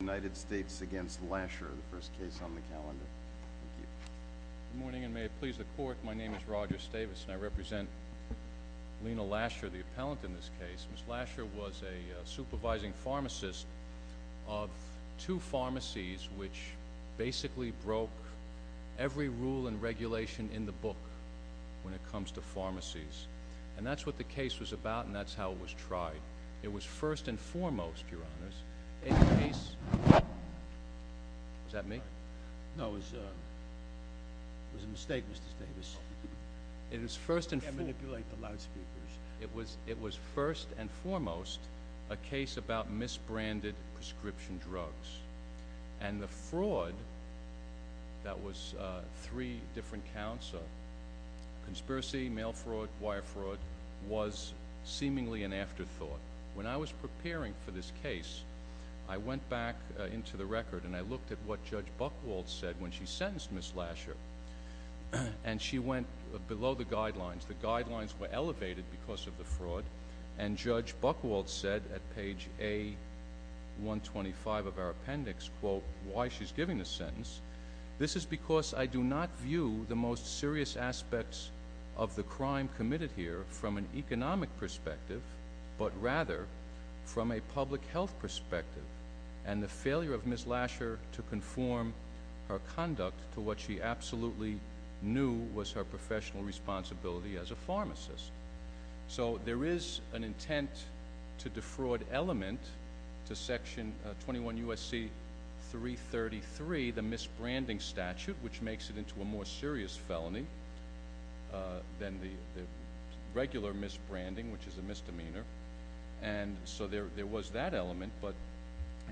United States v. Lasher, the first case on the calendar. Good morning and may it please the court. My name is Roger Stavis and I represent Lena Lasher, the appellant in this case. Ms. Lasher was a supervising pharmacist of two pharmacies which basically broke every rule and regulation in the book when it comes to pharmacies. And that's what the case was about and that's how it was tried. It was first and foremost your honors, a case... Was that me? No, it was a mistake Mr. Stavis. It was first and foremost... You can't manipulate the loudspeakers. It was first and foremost a case about misbranded prescription drugs. And the fraud that was three different counts of conspiracy, mail fraud, wire fraud was seemingly an afterthought. When I was preparing for this case, I went back into the record and I looked at what Judge Buchwald said when she sentenced Ms. Lasher and she went below the guidelines. The guidelines were elevated because of the fraud and Judge Buchwald said at page A125 of our appendix why she's giving this sentence. This is because I do not view the most serious aspects of the crime committed here from an economic perspective, but rather from a public health perspective and the failure of Ms. Lasher to conform her conduct to what she absolutely knew was her professional responsibility as a pharmacist. So there is an intent to defraud element to section 21 U.S.C. 333, the misbranding statute which makes it into a more serious felony than the regular misbranding which is a misdemeanor. And so there was that element, but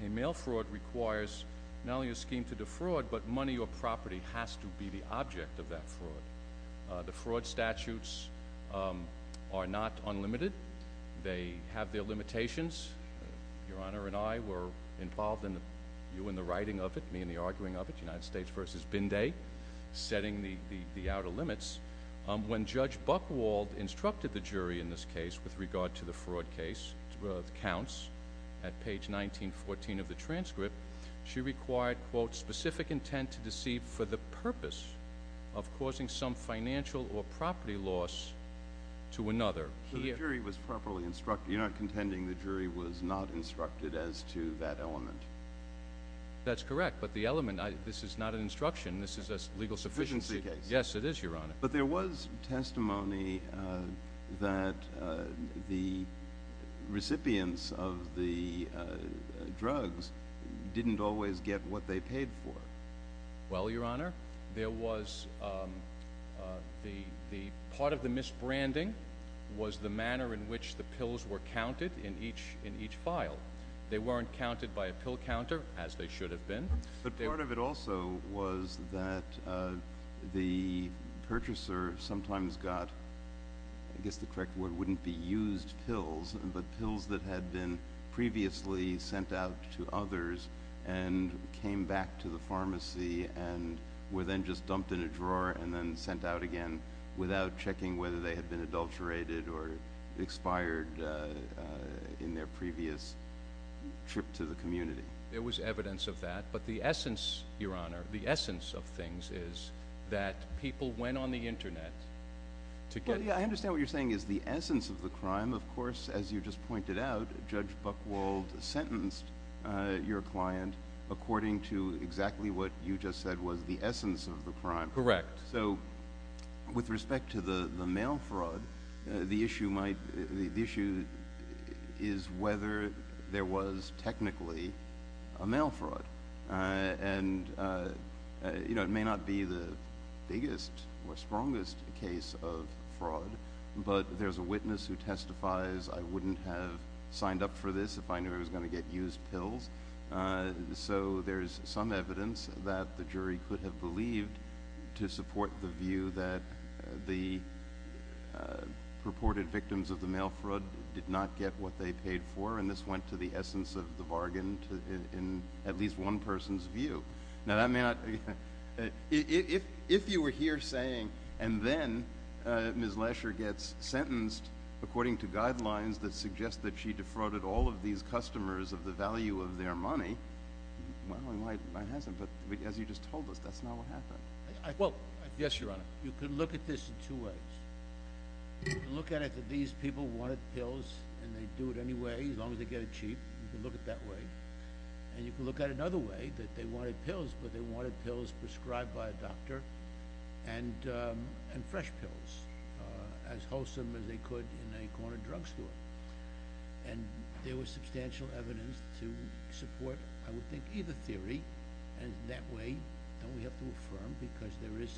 a mail fraud requires not only a scheme to defraud, but money or property has to be the object of that fraud. The fraud statutes are not unlimited. They have their limitations. Your Honor and I were involved in the writing of it, me in the arguing of it, United States v. Binday setting the outer limits. When Judge Buckwald instructed the jury in this case with regard to the fraud case counts at page 1914 of the transcript, she required, quote, specific intent to deceive for the purpose of causing some financial or property loss to another. The jury was properly instructed. You're not contending the jury was not instructed as to that element? That's correct, but the element this is not an instruction. This is a legal sufficiency case. Yes, it is, Your Honor. But there was testimony that the recipients of the drugs didn't always get what they paid for. Well, Your Honor, there was part of the misbranding was the manner in which the pills were counted in each file. They weren't counted by a pill counter as they should have been. But part of it also was that the purchaser sometimes got I guess the correct word wouldn't be used pills, but pills that had been previously sent out to others and came back to the pharmacy and were then just dumped in a drawer and then sent out again without checking whether they had been adulterated or expired in their previous trip to the community. There was evidence of that, but the essence of things is that people went on the Internet to get it. I understand what you're saying is the essence of the crime. Of course, as you just pointed out, Judge Buchwald sentenced your client according to exactly what you just said was the essence of the crime. Correct. So with respect to the mail fraud, the issue is whether there was technically a mail fraud. It may not be the biggest or strongest case of fraud, but there's a witness who testifies, I wouldn't have signed up for this if I knew I was going to get used pills. So there's some evidence that the jury could have believed to support the view that the reported victims of the mail fraud did not get what they paid for, and this went to the essence of the bargain in at least one person's view. Now, that may not... If you were here saying and then Ms. Lesher gets sentenced according to guidelines that suggest that she defrauded all of these customers of the value of their money, well, why hasn't? But as you just told us, that's not what happened. Well, yes, Your Honor. You can look at this in two ways. You can look at it that these people wanted pills and they'd do it anyway as long as they get it cheap. You can look at it that way. And you can look at it another way, that they wanted pills, but they wanted pills prescribed by a doctor and fresh pills as wholesome as they could in a corner drugstore. And there was substantial evidence to support, I would think, either theory and in that way, don't we have to affirm, because there is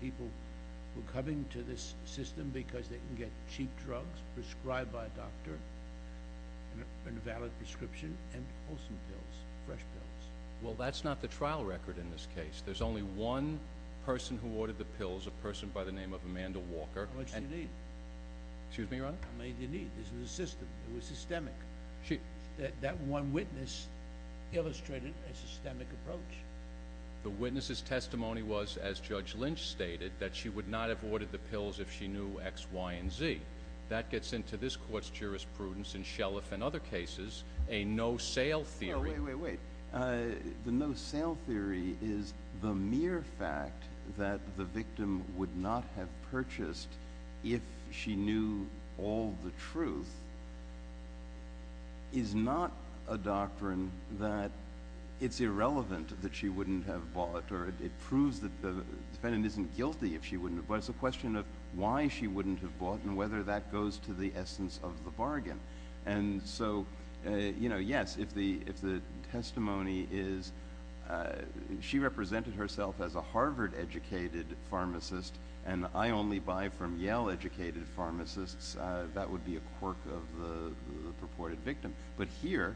people who are coming to this system because they can get cheap drugs prescribed by a doctor and a valid prescription and wholesome pills, fresh pills. Well, that's not the trial record in this case. There's only one person who ordered the pills, a person by the name of Amanda Walker. How much do you need? Excuse me, Your Honor? How much do you need? This is a system. It was systemic. That one witness illustrated a systemic approach. The witness's testimony was, as Judge Lynch stated, that she would not have ordered the pills if she knew X, Y, and Z. That gets into this court's jurisprudence and Shellef and other cases, a no-sale theory. Wait, wait, wait. The no-sale theory is the mere fact that the victim would not have purchased if she knew all the truth is not a doctrine that it's irrelevant that she wouldn't have bought. It proves that the defendant isn't guilty if she wouldn't have bought. It's a question of why she wouldn't have bought and whether that goes to the essence of the bargain. Yes, if the testimony is, she represented herself as a Harvard-educated pharmacist and I only buy from Yale-educated pharmacists, that would be a quirk of the purported victim. But here,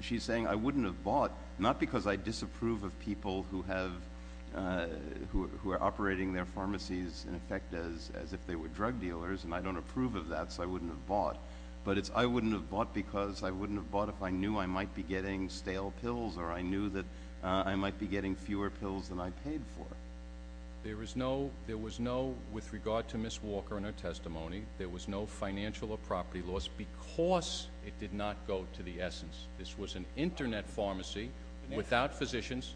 she's saying I wouldn't have bought, not because I disapprove of people who have who are operating their pharmacies in effect as if they were drug dealers and I don't approve of that, so I wouldn't have bought, but it's I wouldn't have bought because I wouldn't have bought if I knew I might be getting stale pills or I knew that I might be getting fewer pills than I paid for. There was no, with regard to Ms. Walker and her testimony, there was no financial or property loss because it did not go to the essence. This was an internet pharmacy without physicians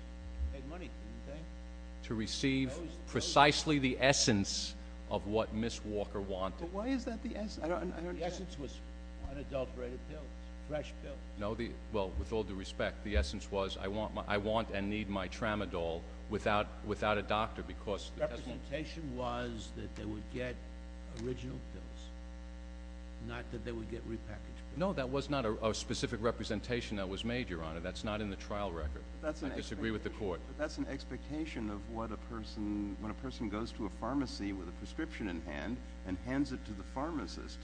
to receive precisely the essence of what Ms. Walker wanted. But why is that the essence? The essence was unadulterated pills, fresh pills. Well, with all due respect, the essence was I want and need my tramadol without a doctor because... The representation was that they would get original pills, not that they a specific representation that was made, Your Honor. That's not in the trial record. I disagree with the Court. That's an expectation of what a person, when a person goes to a pharmacy with a prescription in hand and hands it to the pharmacist,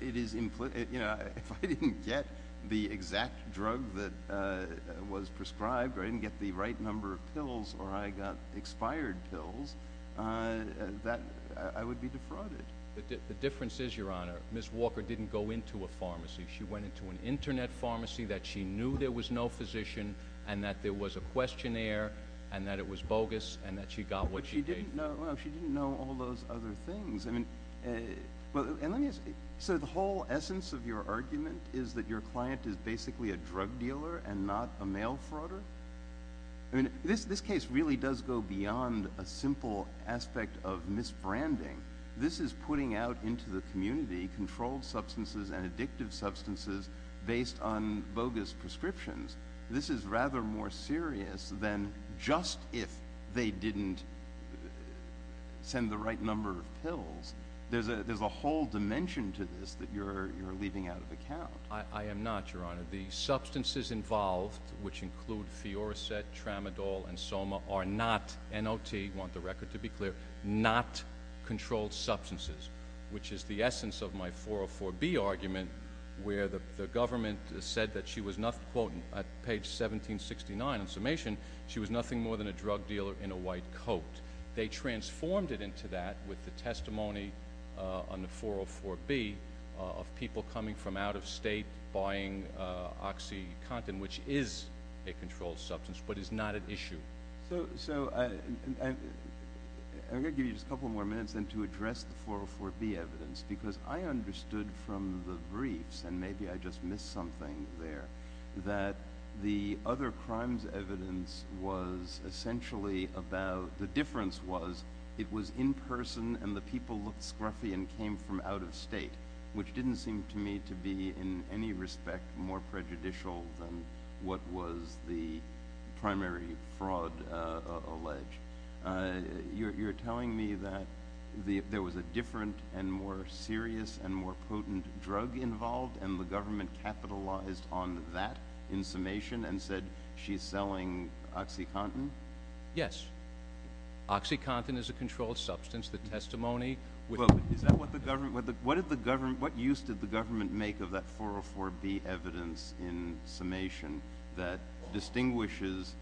it is, you know, if I didn't get the exact drug that was prescribed or I didn't get the right number of pills or I got expired pills, I would be defrauded. The difference is, Your Honor, Ms. Walker didn't go into a pharmacy. She went into an internet pharmacy that she knew there was no physician and that there was a questionnaire and that it was bogus and that she got what she paid for. But she didn't know, well, she didn't know all those other things. I mean, well, and let me ask, so the whole essence of your argument is that your client is basically a drug dealer and not a mail frauder? I mean, this case really does go beyond a simple aspect of misbranding. This is putting out into the community controlled substances and addictive substances based on bogus prescriptions. This is rather more serious than just if they didn't send the right number of pills. There's a whole dimension to this that you're leaving out of account. I am not, Your Honor. The substances involved, which include Fioricet, Tramadol, and Soma, are not, N.O.T., want the record to be clear, not controlled substances, which is the essence of my 404B argument where the government said that she was not, quote, page 1769 on summation, she was nothing more than a drug dealer in a white coat. They transformed it into that with the testimony on the 404B of people coming from out of state buying OxyContin, which is a controlled substance but is not an issue. So, I got to give you just a couple more minutes then to address the 404B evidence because I understood from the briefs, and maybe I just missed something there, that the other crimes evidence was essentially about, the difference was it was in person and the people looked scruffy and came from out of state, which didn't seem to me to be in any respect more prejudicial than what was the primary fraud alleged. You're telling me that there was a different and more serious and more potent drug involved and the government capitalized on that in summation and said she's selling OxyContin? Yes. OxyContin is a controlled substance. The testimony, what use did the government make of that 404B evidence in summation that distinguishes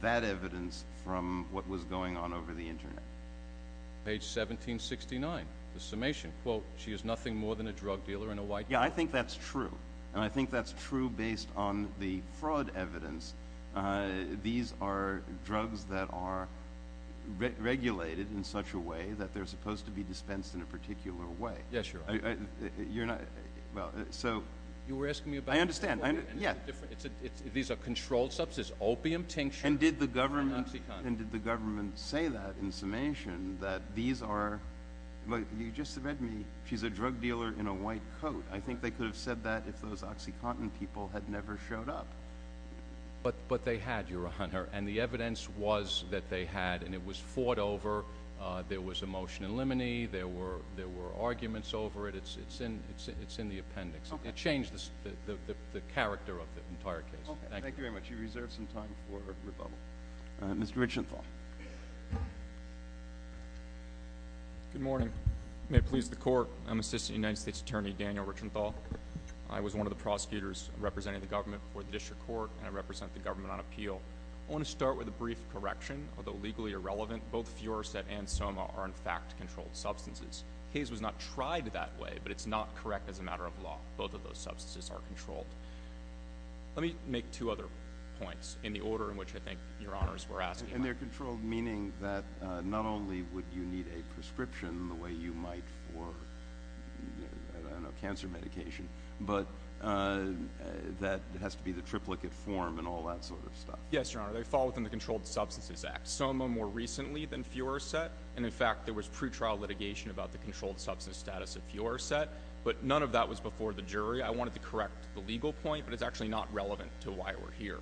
that evidence from what was going on over the internet? Page 1769, the summation, quote, she is nothing more than a drug dealer in a white... Yeah, I think that's true. And I think that's true based on the fraud evidence. These are drugs that are regulated in such a way that they're supposed to be dispensed in a particular way. Yeah, sure. You were asking me about... I understand. These are controlled substances, opium tincture... And did the government say that in summation that these are... You just read me, she's a drug dealer in a white coat. I think they could have said that if those OxyContin people had never showed up. But they had, Your Honor, and the evidence was that they had and it was fought over. There was a motion in Limine. There were arguments over it. It's in the appendix. It changed the character of the entire case. Thank you. Thank you very much. You reserve some time for rebuttal. Mr. Richenthal. Good morning. May it please the Court. I'm Assistant United States Attorney Daniel Richenthal. I was one of the prosecutors representing the government for the District Court and I represent the government on appeal. I want to start with a brief correction. Although legally irrelevant, both Fioraset and Soma are in fact controlled substances. The case was not tried that way but it's not correct as a matter of law. Both of those substances are controlled. Let me make two other points in the order in which I think Your Honors were asking. And they're controlled meaning that not only would you need a prescription the way you might for, I don't know, cancer medication, but that has to be the triplicate form and all that sort of stuff. Yes, Your Honor. They fall within the Controlled Substances Act. Soma more recently than Fioraset and in fact there was pre-trial litigation about the controlled substance status of Fioraset but none of that was before the jury. I wanted to correct the legal point but it's actually not relevant to why we're here.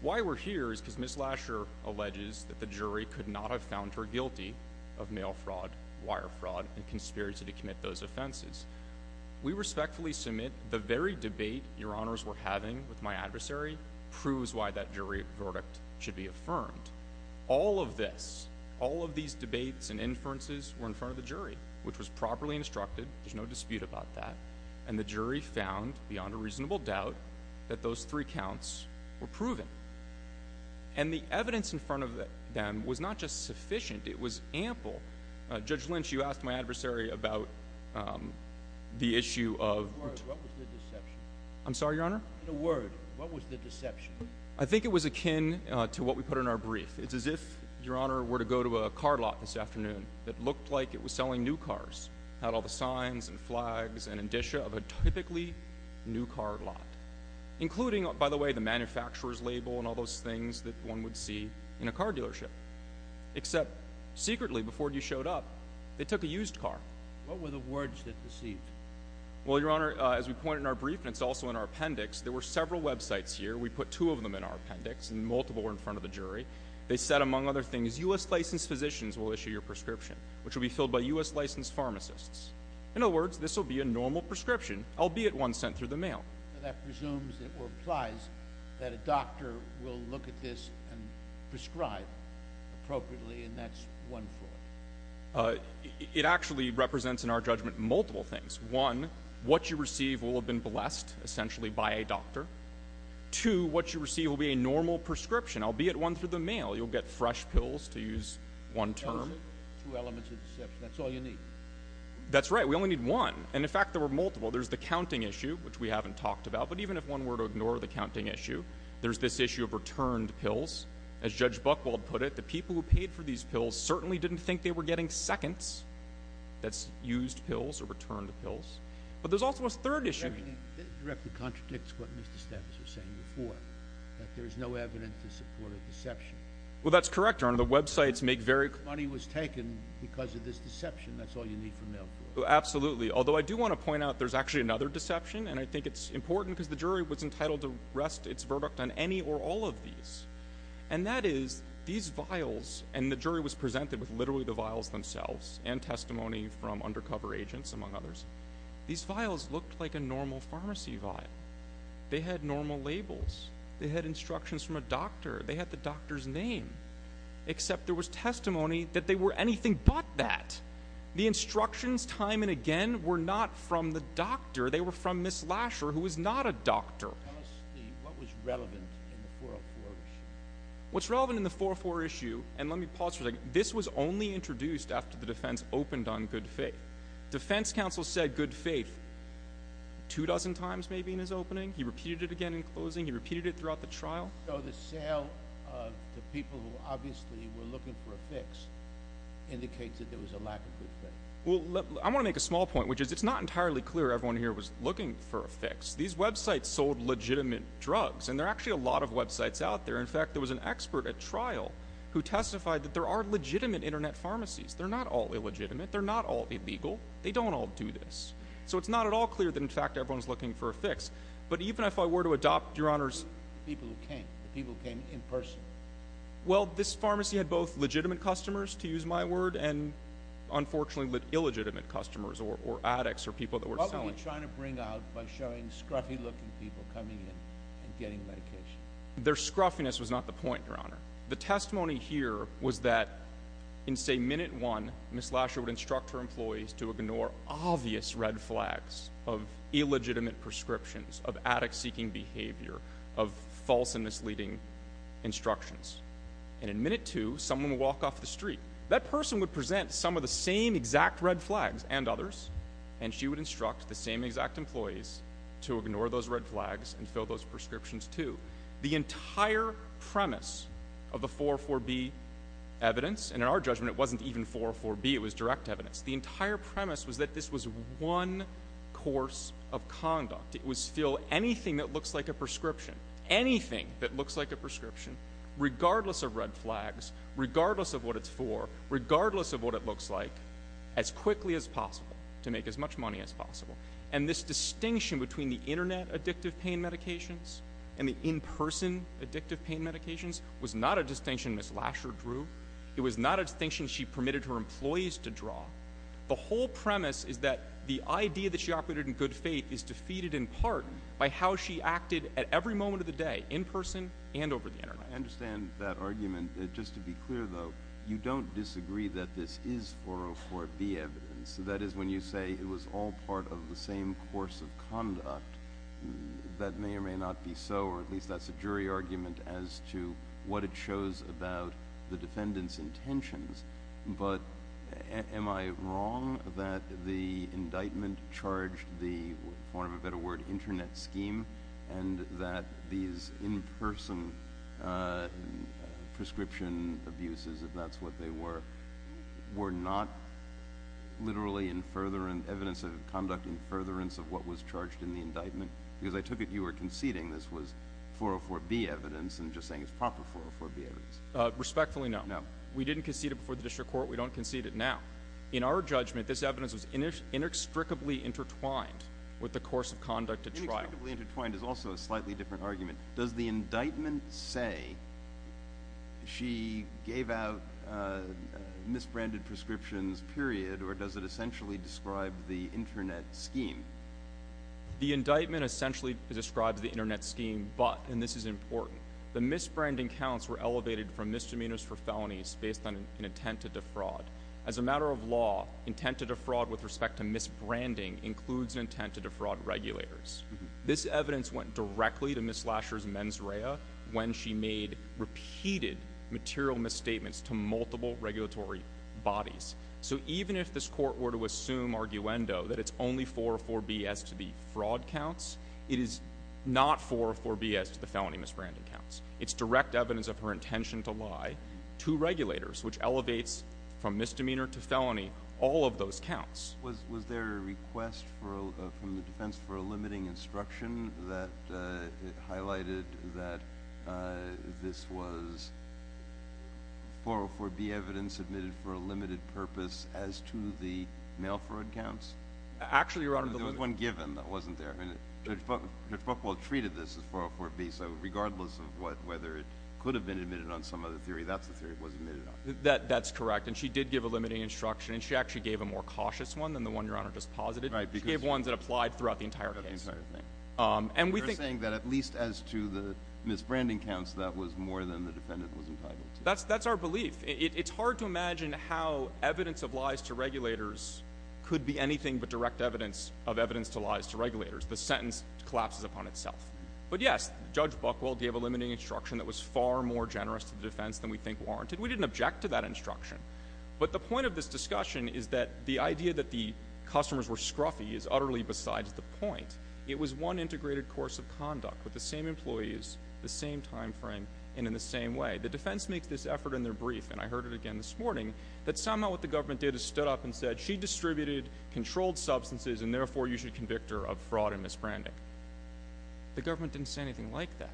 Why we're here is because Ms. Lasher alleges that the jury could not have found her guilty of mail fraud, wire fraud, and conspiracy to commit those offenses. We respectfully submit the very debate Your Honors were having with my adversary proves why that jury verdict and inferences were in front of the jury, which was properly instructed. There's no dispute about that. And the jury found, beyond a reasonable doubt, that those three counts were proven. And the evidence in front of them was not just sufficient, it was ample. Judge Lynch, you asked my adversary about the issue of I'm sorry, Your Honor? I think it was akin to what we put in our brief. It's as if Your Honor were to go to a car lot this afternoon that looked like it was selling new cars. It had all the signs and flags and indicia of a typically new car lot. Including, by the way, the manufacturer's label and all those things that one would see in a car dealership. Except secretly, before you showed up, they took a used car. What were the words that deceived? Well, Your Honor, as we point in our brief and it's also in our appendix, there were several websites here. We put two of them in our appendix and multiple were in front of the jury. They said, among other things, U.S. licensed physicians will issue your prescription, which will be filled by U.S. licensed pharmacists. In other words, this will be a normal prescription, albeit one sent through the mail. That presumes or implies that a doctor will look at this and prescribe appropriately and that's one flaw. It actually represents, in our judgment, multiple things. One, what you receive will have been blessed, essentially, by a doctor. Two, what you receive will be a normal prescription, albeit one through the mail. You'll get fresh pills to use one term. Two elements of deception. That's all you need. That's right. We only need one. And, in fact, there were multiple. There's the counting issue, which we haven't talked about. But even if one were to ignore the counting issue, there's this issue of returned pills. As Judge Buchwald put it, the people who paid for these pills certainly didn't think they were getting seconds that's used pills or returned pills. But there's also a third issue. That directly contradicts what you're saying. There's no evidence to support a deception. Well, that's correct, Your Honor. The websites make very clear... The money was taken because of this deception. That's all you need from mail. Absolutely. Although, I do want to point out there's actually another deception and I think it's important because the jury was entitled to rest its verdict on any or all of these. And that is, these vials, and the jury was presented with literally the vials themselves and testimony from undercover agents, among others. These vials looked like a normal pharmacy vial. They had normal labels. They had instructions from a doctor. They had the doctor's name. Except there was testimony that they were anything but that. The instructions, time and again, were not from the doctor. They were from Ms. Lasher, who was not a doctor. Tell us what was relevant in the 404 issue. What's relevant in the 404 issue, and let me pause for a second, this was only introduced after the defense opened on good faith. Defense counsel said good faith two dozen times maybe in his opening. He repeated it again in closing. He repeated it throughout the trial. So the sale of the people who obviously were looking for a fix indicates that there was a lack of good faith. I want to make a small point, which is it's not entirely clear everyone here was looking for a fix. These websites sold legitimate drugs, and there are actually a lot of websites out there. In fact, there was an expert at trial who testified that there are legitimate internet pharmacies. They're not all illegitimate. They're not all illegal. They don't all do this. So it's not at all clear that in fact everyone's looking for a fix. But even if I were to adopt, Your Honors... The people who came. The people who came in person. Well, this pharmacy had both legitimate customers, to use my word, and unfortunately illegitimate customers or addicts or people that were selling. What were you trying to bring out by showing scruffy looking people coming in and getting medication? Their scruffiness was not the point, Your Honor. The testimony here was that in say minute one, Ms. Lasher would instruct her employees to ignore obvious red flags of illegitimate prescriptions, of addict-seeking behavior, of false and misleading instructions. And in minute two, someone would walk off the street. That person would present some of the same exact red flags and others and she would instruct the same exact employees to ignore those red flags and fill those prescriptions too. The entire premise of the 404B evidence, and in our judgment it wasn't even the premise, was that this was one course of conduct. It was fill anything that looks like a prescription. ANYTHING that looks like a prescription, regardless of red flags, regardless of what it's for, regardless of what it looks like, as quickly as possible. To make as much money as possible. And this distinction between the internet addictive pain medications and the in-person addictive pain medications was not a distinction Ms. Lasher drew. It was not a distinction she permitted her employees to draw. The whole premise is that the idea that she operated in good faith is defeated in part by how she acted at every moment of the day, in person and over the internet. I understand that argument. Just to be clear though, you don't disagree that this is 404B evidence. That is when you say it was all part of the same course of conduct. That may or may not be so, or at least that's a jury argument as to what it shows about the defendant's conduct. But am I wrong that the indictment charged the, for want of a better word, internet scheme and that these in-person prescription abuses, if that's what they were, were not literally evidence of conduct in furtherance of what was charged in the indictment? Because I took it you were conceding this was 404B evidence and just saying it's proper 404B evidence. Respectfully, no. We didn't concede it before the district court. We don't concede it now. In our judgment this evidence was inextricably intertwined with the course of conduct at trial. Inextricably intertwined is also a slightly different argument. Does the indictment say she gave out misbranded prescriptions, period, or does it essentially describe the internet scheme? The indictment essentially describes the internet scheme, but, and this is important, the misbranding counts were elevated from misdemeanors for felonies based on an intent to defraud. As a matter of law, intent to defraud with respect to misbranding includes intent to defraud regulators. This evidence went directly to Ms. Lasher's mens rea when she made repeated material misstatements to multiple regulatory bodies. So even if this court were to assume arguendo that it's only 404B as to the misbranding counts, it's direct evidence of her intention to lie to regulators which elevates from misdemeanor to felony all of those counts. Was there a request from the defense for a limiting instruction that highlighted that this was 404B evidence submitted for a limited purpose as to the mail fraud counts? Actually, Your Honor, there was one given that wasn't there. Judge Buchwald treated this as 404B, so regardless of whether it could have been admitted on some other theory, that's the theory it was admitted on. That's correct, and she did give a limiting instruction, and she actually gave a more cautious one than the one Your Honor just posited. She gave ones that applied throughout the entire case. You're saying that at least as to the misbranding counts, that was more than the defendant was entitled to. That's our belief. It's hard to imagine how evidence of lies to regulators could be anything but direct evidence of evidence to lies to regulators. The sentence collapses upon itself. But yes, Judge Buchwald gave a limiting instruction that was far more generous to the defense than we think warranted. We didn't object to that instruction, but the point of this discussion is that the idea that the customers were scruffy is utterly besides the point. It was one integrated course of conduct with the same employees, the same time frame, and in the same way. The defense makes this effort in their brief, and I heard it again this morning, that somehow what the government did is stood up and said, she distributed controlled substances and therefore you should convict her of fraud and misbranding. The government didn't say anything like that.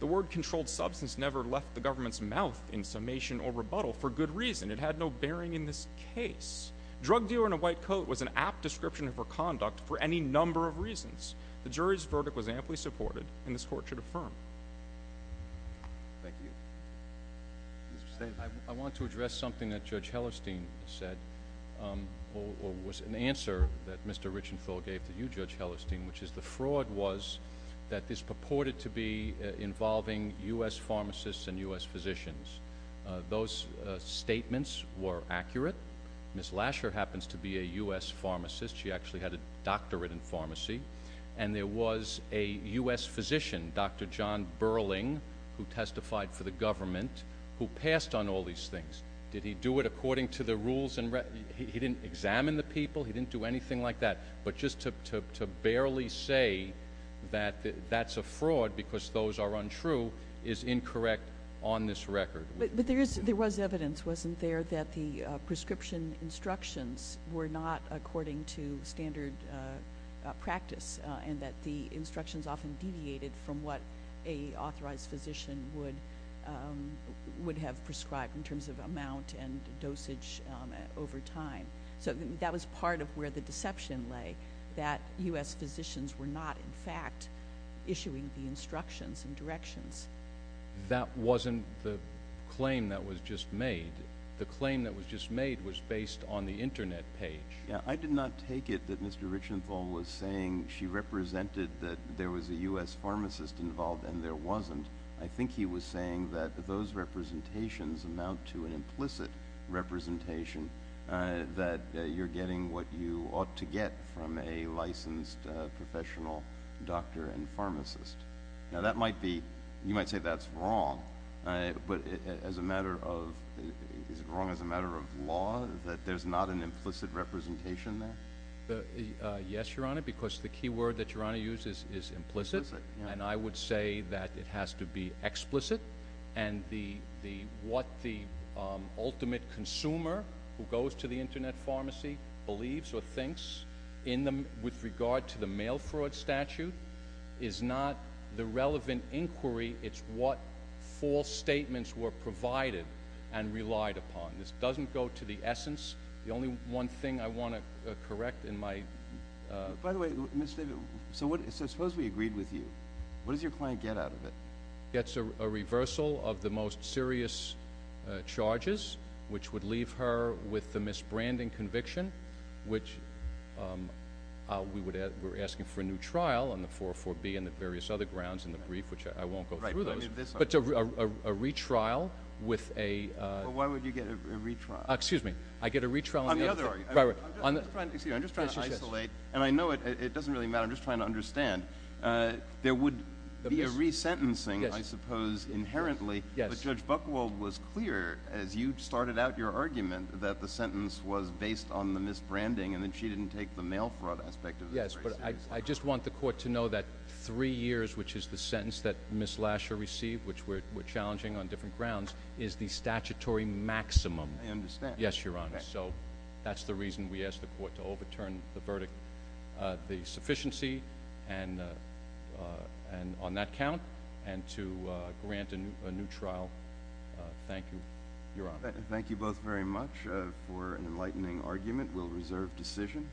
The word controlled substance never left the government's mouth in summation or rebuttal for good reason. It had no bearing in this case. Drug dealer in a white coat was an apt description of her conduct for any number of reasons. The jury's verdict was amply supported, and this Court should affirm. Thank you. I want to address something that Judge Hellerstein said, or was an answer that Mr. Richenthal gave to you, Judge Hellerstein, which is the fraud was that this purported to be involving U.S. pharmacists and U.S. physicians. Those statements were accurate. Ms. Lasher happens to be a U.S. pharmacist. She actually had a doctorate in pharmacy, and there was a U.S. physician, Dr. John Burling, who testified for the government, who passed on all these things. Did he do it by rules? He didn't examine the people? He didn't do anything like that? But just to barely say that that's a fraud because those are untrue is incorrect on this record. But there was evidence, wasn't there, that the prescription instructions were not according to standard practice, and that the instructions often deviated from what an authorized physician would have prescribed in terms of amount and dosage over time. That was part of where the deception lay, that U.S. physicians were not, in fact, issuing the instructions and directions. That wasn't the claim that was just made. The claim that was just made was based on the Internet page. I did not take it that Mr. Richenthal was saying she represented that there was a U.S. pharmacist involved, and there wasn't. I think he was saying that those representations amount to an implicit representation that you're getting what you ought to get from a licensed professional doctor and pharmacist. Now, you might say that's wrong, but is it wrong as a matter of law that there's not an implicit representation there? Yes, Your Honor, because the key word that Your Honor uses is implicit, and I would say that it has to be explicit, and what the ultimate consumer who goes to the Internet pharmacy believes or thinks with regard to the mail fraud statute is not the relevant inquiry. It's what false statements were provided and relied upon. This doesn't go to the essence. The only one thing I want to correct in my— By the way, Mr. David, so suppose we agreed with you. What does your client get out of it? Gets a reversal of the most serious charges, which would leave her with the misbranding conviction, which we're asking for a new trial on the 404B and the various other grounds in the brief, which I won't go through those, but a retrial with a— Why would you get a retrial? Excuse me. I get a retrial— On the other— I'm just trying to isolate, and I know it doesn't really matter. I'm just trying to understand. There would be a resentencing, I suppose, inherently, but Judge Buchwald was clear as you started out your argument that the sentence was based on the misbranding and that she didn't take the mail fraud aspect of it very seriously. Yes, but I just want the Court to know that three years, which is the sentence that Ms. Lasher received, which we're challenging on different grounds, is the statutory maximum. I understand. Yes, Your Honor. So that's the reason we asked the Court to overturn the verdict, the sufficiency on that count and to grant a new trial. Thank you, Your Honor. Thank you both very much for an enlightening argument. We'll reserve decision.